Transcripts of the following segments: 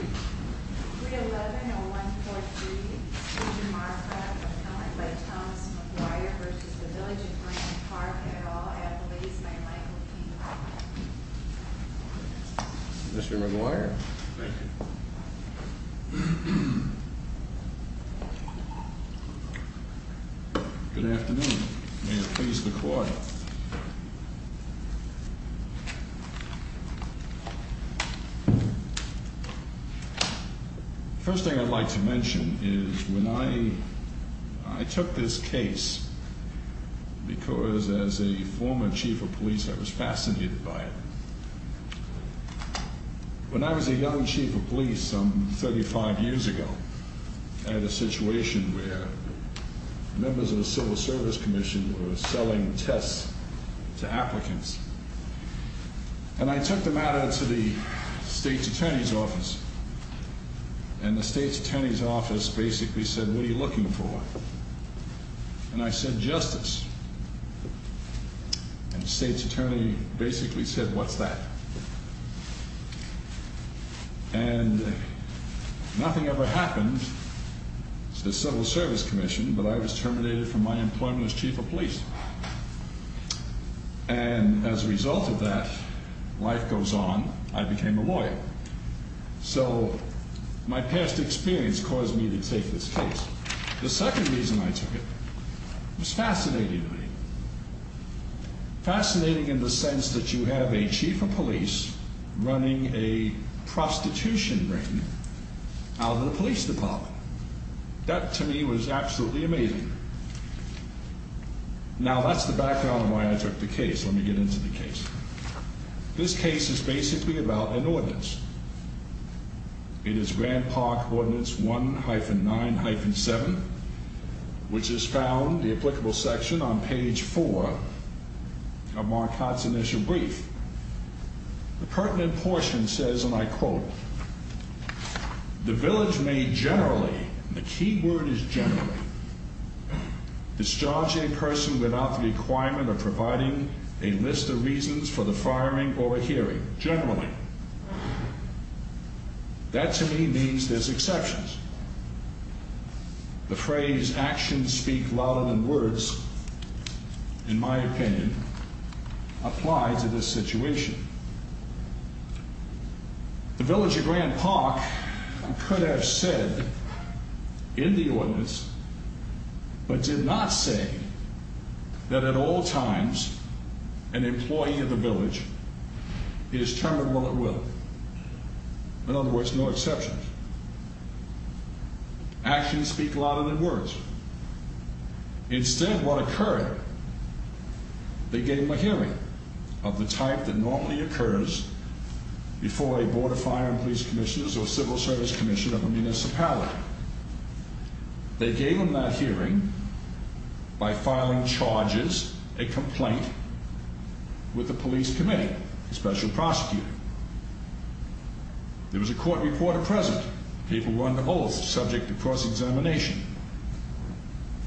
311-0143, Mr. Marcotte, appellant by Thomas McGuire v. Village of Grant Park, et al., at the lease by Michael P. Mr. McGuire. Thank you. Good afternoon. May it please the Court. The first thing I'd like to mention is when I took this case, because as a former chief of police, I was fascinated by it. When I was a young chief of police some 35 years ago, I had a situation where members of the Civil Service Commission were selling tests to applicants. And I took the matter to the State's Attorney's Office, and the State's Attorney's Office basically said, What are you looking for? And I said, Justice. And the State's Attorney basically said, What's that? And nothing ever happened to the Civil Service Commission, but I was terminated from my employment as chief of police. And as a result of that, life goes on, I became a lawyer. So my past experience caused me to take this case. The second reason I took it was fascinating to me. Fascinating in the sense that you have a chief of police running a prostitution ring out of the police department. That, to me, was absolutely amazing. Now, that's the background of why I took the case. Let me get into the case. This case is basically about an ordinance. It is Grand Park Ordinance 1-9-7, which is found, the applicable section, on page 4 of Mark Hott's initial brief. The pertinent portion says, and I quote, The village may generally, and the key word is generally, discharge a person without the requirement of providing a list of reasons for the firing or a hearing. Generally. That, to me, means there's exceptions. The phrase, actions speak louder than words, in my opinion, apply to this situation. The village of Grand Park could have said in the ordinance, but did not say, that at all times, an employee of the village is termed while at will. In other words, no exceptions. Actions speak louder than words. Instead, what occurred, they gave them a hearing of the type that normally occurs before a board of fire and police commissioners or civil service commissioner of a municipality. They gave them that hearing by filing charges, a complaint, with the police committee, the special prosecutor. There was a court reporter present. People were under oath, subject to cross-examination.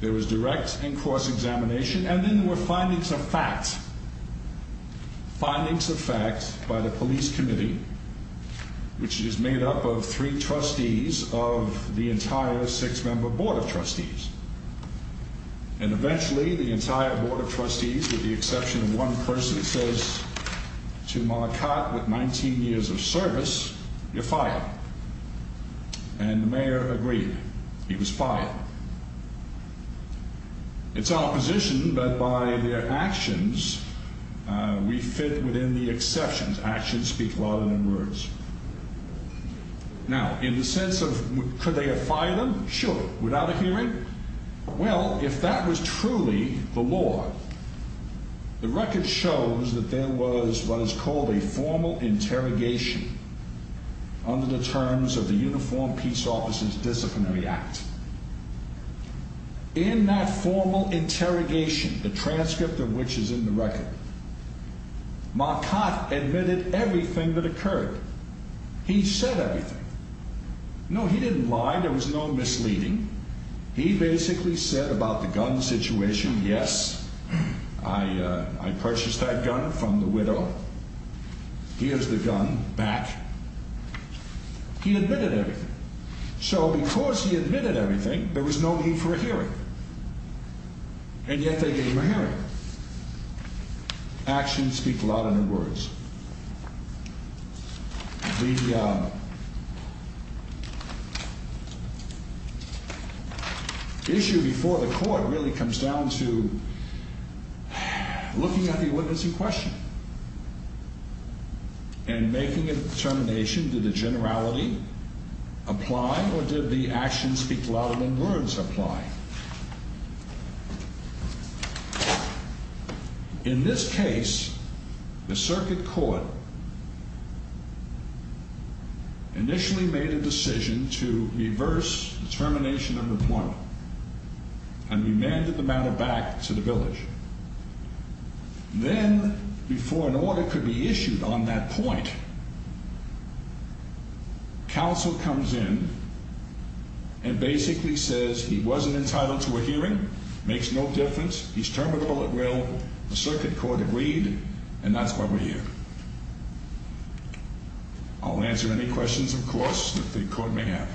There was direct and cross-examination, and then there were findings of fact. Findings of fact by the police committee, which is made up of three trustees of the entire six-member board of trustees. And eventually, the entire board of trustees, with the exception of one person, says, To Malacat, with 19 years of service, you're fired. And the mayor agreed. He was fired. It's opposition, but by their actions, we fit within the exceptions. Actions speak louder than words. Now, in the sense of, could they have fired them? Sure. Without a hearing? Well, if that was truly the law, the record shows that there was what is called a formal interrogation under the terms of the Uniform Peace Officers' Disciplinary Act. In that formal interrogation, the transcript of which is in the record, Malacat admitted everything that occurred. He said everything. No, he didn't lie. There was no misleading. He basically said about the gun situation, Yes, I purchased that gun from the widow. Here's the gun back. He admitted everything. So, because he admitted everything, there was no need for a hearing. And yet, they gave him a hearing. Actions speak louder than words. The issue before the court really comes down to looking at the witness in question and making a determination, did the generality apply or did the actions speak louder than words apply? In this case, the circuit court initially made a decision to reverse the termination of the appointment and remanded the matter back to the village. Then, before an order could be issued on that point, counsel comes in and basically says, He wasn't entitled to a hearing. Makes no difference. He's termed with full at will. The circuit court agreed. And that's why we're here. I'll answer any questions, of course, that the court may have.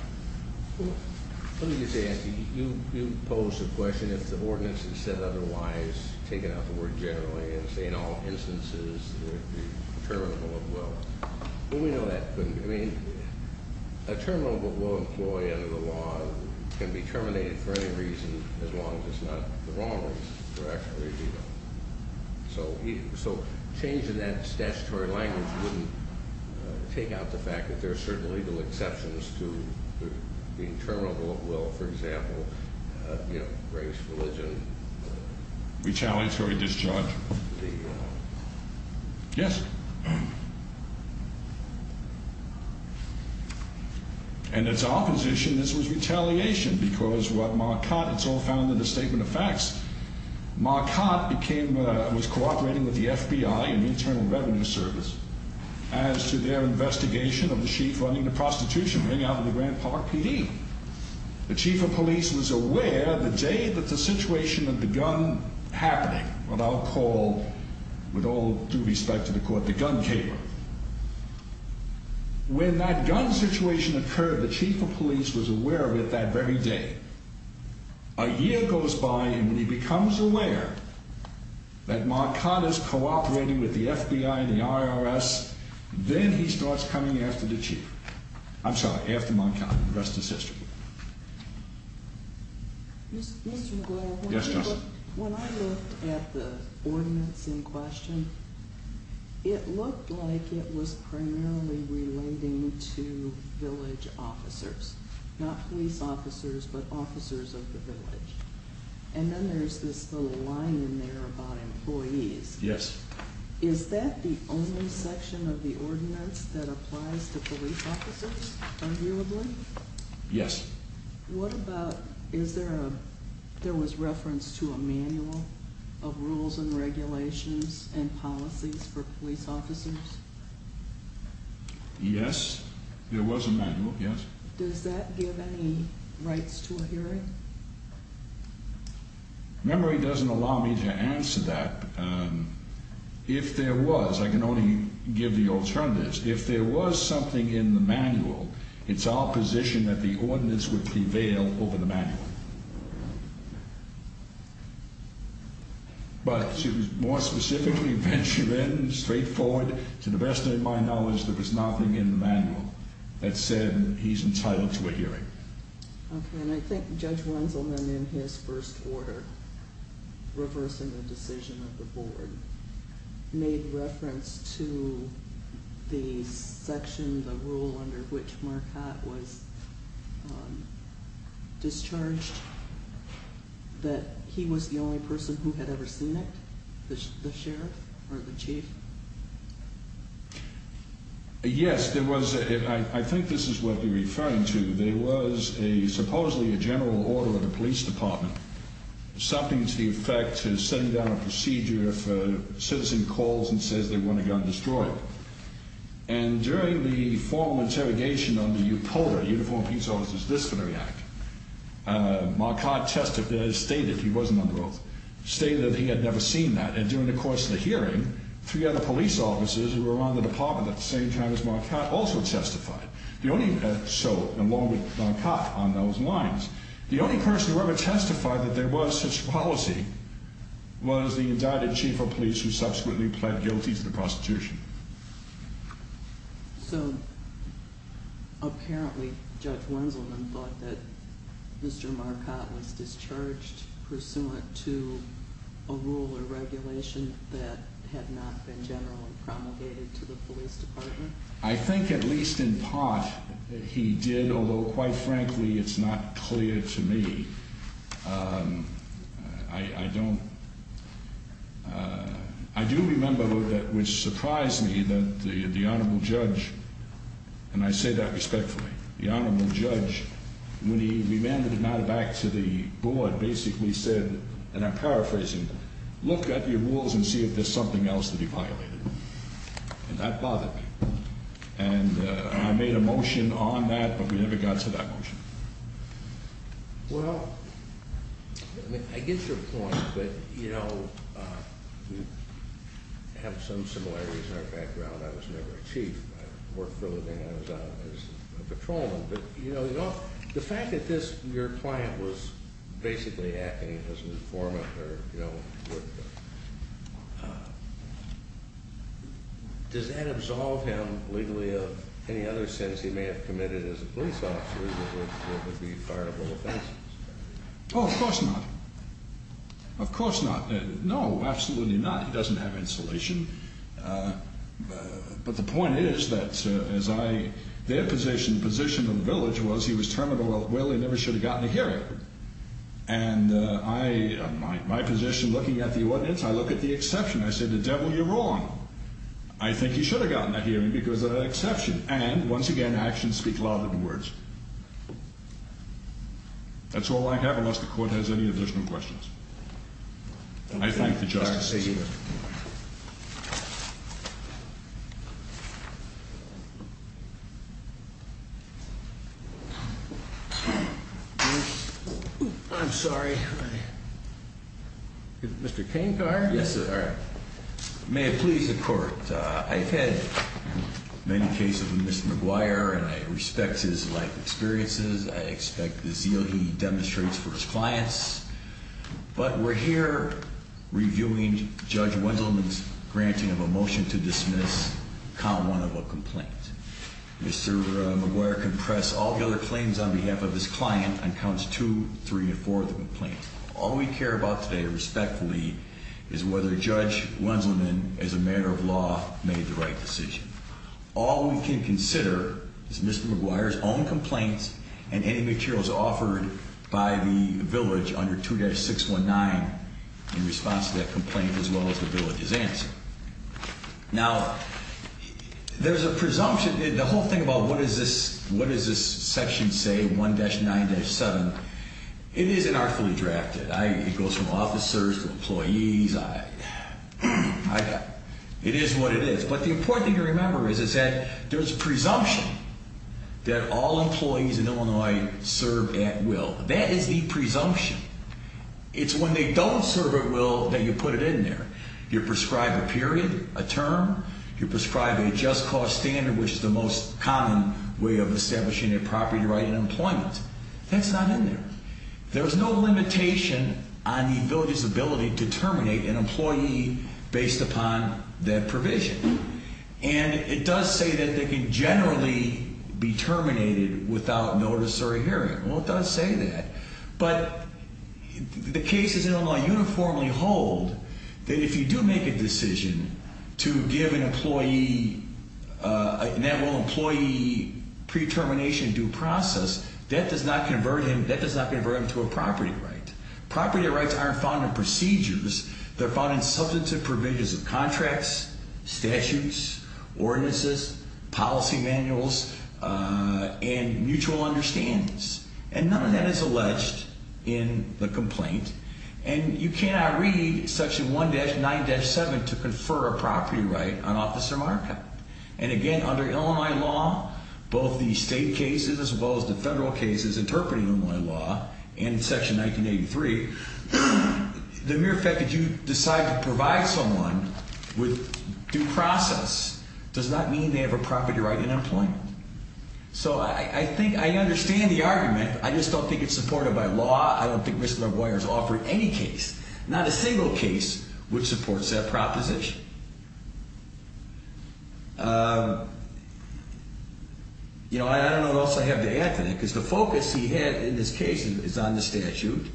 Let me just ask you, you posed the question, if the ordinance is said otherwise, taking out the word generally and saying in all instances, it would be terminable at will. Well, we know that couldn't be. I mean, a terminable at will employee under the law can be terminated for any reason, as long as it's not the wrong reason for action. So, changing that statutory language wouldn't take out the fact that there are certain legal exceptions to being terminable at will. For example, you know, race, religion. Retaliatory discharge. Yes. And it's our position this was retaliation because what Marquardt, it's all found in the statement of facts. Marquardt became, was cooperating with the FBI and Internal Revenue Service as to their investigation of the chief running the prostitution ring out of the Grand Park PD. The chief of police was aware the day that the situation of the gun happening, what I'll call, with all due respect to the court, the gun cabler. When that gun situation occurred, the chief of police was aware of it that very day. A year goes by and he becomes aware that Marquardt is cooperating with the FBI and the IRS, then he starts coming after the chief. I'm sorry, after Marquardt. The rest is history. Mr. McGraw, when I looked at the ordinance in question, it looked like it was primarily relating to village officers. Not police officers, but officers of the village. And then there's this little line in there about employees. Yes. Is that the only section of the ordinance that applies to police officers, arguably? Yes. What about, is there a, there was reference to a manual of rules and regulations and policies for police officers? Yes, there was a manual, yes. Does that give any rights to a hearing? Memory doesn't allow me to answer that. If there was, I can only give the alternatives. If there was something in the manual, it's our position that the ordinance would prevail over the manual. But to more specifically venture in, straightforward, to the best of my knowledge, there was nothing in the manual that said he's entitled to a hearing. Okay, and I think Judge Runselman in his first order, reversing the decision of the board, made reference to the section, the rule under which Marquette was discharged, that he was the only person who had ever seen it, the sheriff or the chief? Yes, there was, I think this is what you're referring to. There was a, supposedly a general order of the police department, something to the effect of setting down a procedure if a citizen calls and says they want a gun destroyed. And during the formal interrogation under UPOLA, Uniform Peace Officers Disciplinary Act, Marquette stated, he wasn't on the oath, stated that he had never seen that. And during the course of the hearing, three other police officers who were on the department at the same time as Marquette also testified. The only, so along with Marquette on those lines, the only person who ever testified that there was such policy was the indicted chief of police who subsequently pled guilty to the prostitution. So, apparently Judge Runselman thought that Mr. Marquette was discharged pursuant to a rule or regulation that had not been generally promulgated to the police department? I think at least in part he did, although quite frankly it's not clear to me. I don't, I do remember that which surprised me that the honorable judge, and I say that respectfully, the honorable judge, when he remanded the matter back to the board, basically said, and I'm paraphrasing, look at your rules and see if there's something else to be violated. And that bothered me. And I made a motion on that, but we never got to that motion. Well, I mean, I get your point, but you know, we have some similarities in our background. I was never a chief. I worked for a living as a patrolman. But, you know, the fact that this, your client was basically acting as an informant, or, you know, does that absolve him legally of any other sins he may have committed as a police officer that would be fireable offenses? Oh, of course not. Of course not. No, absolutely not. He doesn't have insulation. But the point is that as I, their position, the position of the village was he was terminally ill, he never should have gotten a hearing. And I, my position looking at the ordinance, I look at the exception, I say, the devil, you're wrong. I think he should have gotten a hearing because of that exception. And, once again, actions speak louder than words. That's all I have, unless the court has any additional questions. I thank the justices. I'm sorry. Mr. Canegar? Yes, sir. May it please the court. I've had many cases with Mr. McGuire, and I respect his life experiences. I expect the zeal he demonstrates for his clients. But we're here reviewing Judge Wendelman's granting of a motion to dismiss count one of a complaint. Mr. McGuire can press all the other claims on behalf of his client on counts two, three, and four of the complaint. All we care about today, respectfully, is whether Judge Wendelman, as a matter of law, made the right decision. All we can consider is Mr. McGuire's own complaints and any materials offered by the village under 2-619 in response to that complaint, as well as the village's answer. Now, there's a presumption. The whole thing about what does this section say, 1-9-7, it is inartfully drafted. It goes from officers to employees. It is what it is. But the important thing to remember is that there's a presumption that all employees in Illinois serve at will. That is the presumption. It's when they don't serve at will that you put it in there. You prescribe a period, a term. You prescribe a just cause standard, which is the most common way of establishing a property right in employment. That's not in there. There's no limitation on the village's ability to terminate an employee based upon that provision. And it does say that they can generally be terminated without notice or a hearing. Well, it does say that. But the cases in Illinois uniformly hold that if you do make a decision to give an employee an at-will employee pre-termination due process, that does not convert him to a property right. Property rights aren't found in procedures. They're found in substantive provisions of contracts, statutes, ordinances, policy manuals, and mutual understandings. And none of that is alleged in the complaint. And you cannot read Section 1-9-7 to confer a property right on Officer Markup. And, again, under Illinois law, both the state cases as well as the federal cases interpreting Illinois law and Section 1983, the mere fact that you decide to provide someone with due process does not mean they have a property right in employment. So I think I understand the argument. I just don't think it's supported by law. I don't think Mr. LaGuardia has offered any case, not a single case, which supports that proposition. You know, I don't know what else I have to add to that because the focus he had in this case is on the statute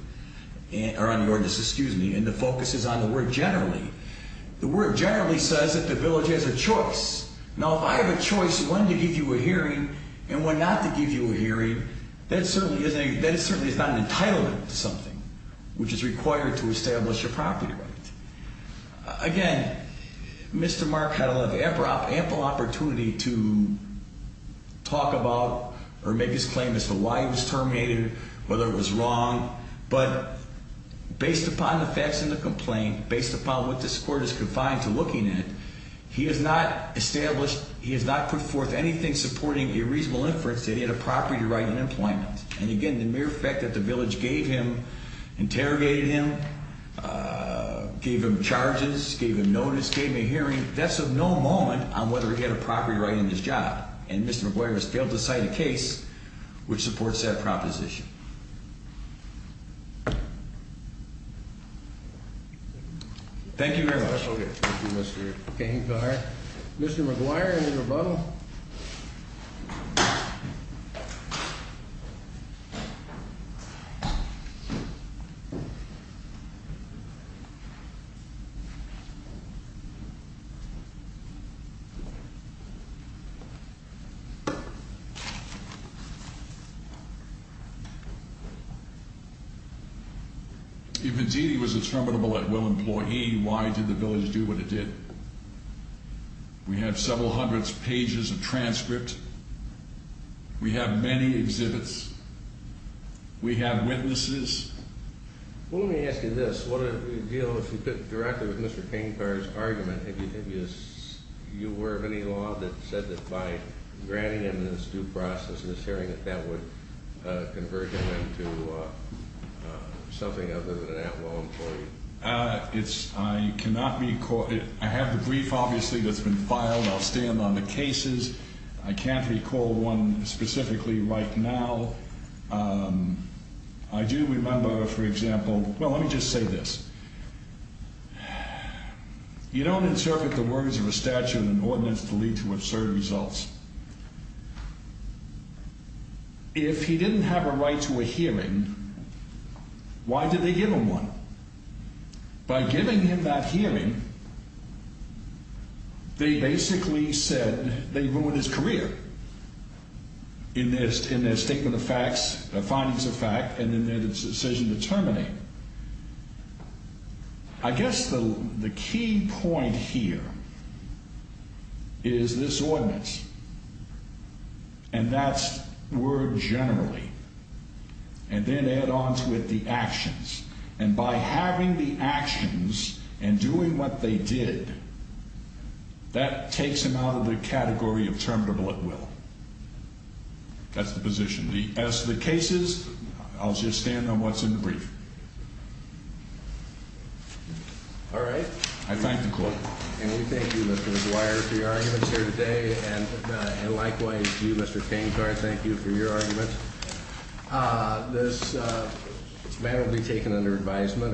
or on the ordinance, excuse me, and the focus is on the word generally. The word generally says that the village has a choice. Now, if I have a choice when to give you a hearing and when not to give you a hearing, that certainly is not an entitlement to something, which is required to establish a property right. Again, Mr. Mark had ample opportunity to talk about or make his claim as to why he was terminated, whether it was wrong. But based upon the facts in the complaint, based upon what this court is confined to looking at, he has not established, he has not put forth anything supporting a reasonable inference that he had a property right in employment. And again, the mere fact that the village gave him, interrogated him, gave him charges, gave him notice, gave him a hearing, that's of no moment on whether he had a property right in his job. And Mr. LaGuardia has failed to cite a case which supports that proposition. Thank you very much. Okay. Thank you, Mr. Gangar. If indeed he was a terminable at-will employee, why did the village do what it did? We have several hundred pages of transcripts. We have many exhibits. We have witnesses. Well, let me ask you this. What did it reveal, if you could, directly with Mr. Gangar's argument? If you were of any law that said that by granting him this due process and this hearing, that that would convert him into something other than an at-will employee? I cannot recall. I have the brief, obviously, that's been filed. I'll stand on the cases. I can't recall one specifically right now. I do remember, for example, well, let me just say this. You don't insert the words of a statute and ordinance to lead to absurd results. If he didn't have a right to a hearing, why did they give him one? By giving him that hearing, they basically said they ruined his career in their statement of facts, their findings of fact, and in their decision to terminate. I guess the key point here is this ordinance, and that's word generally, and then add on to it the actions. And by having the actions and doing what they did, that takes him out of the category of terminable at-will. That's the position. As for the cases, I'll just stand on what's in the brief. All right. I thank the court. And we thank you, Mr. McGuire, for your arguments here today, and likewise you, Mr. Gangar, thank you for your arguments. This matter will be taken under advisement.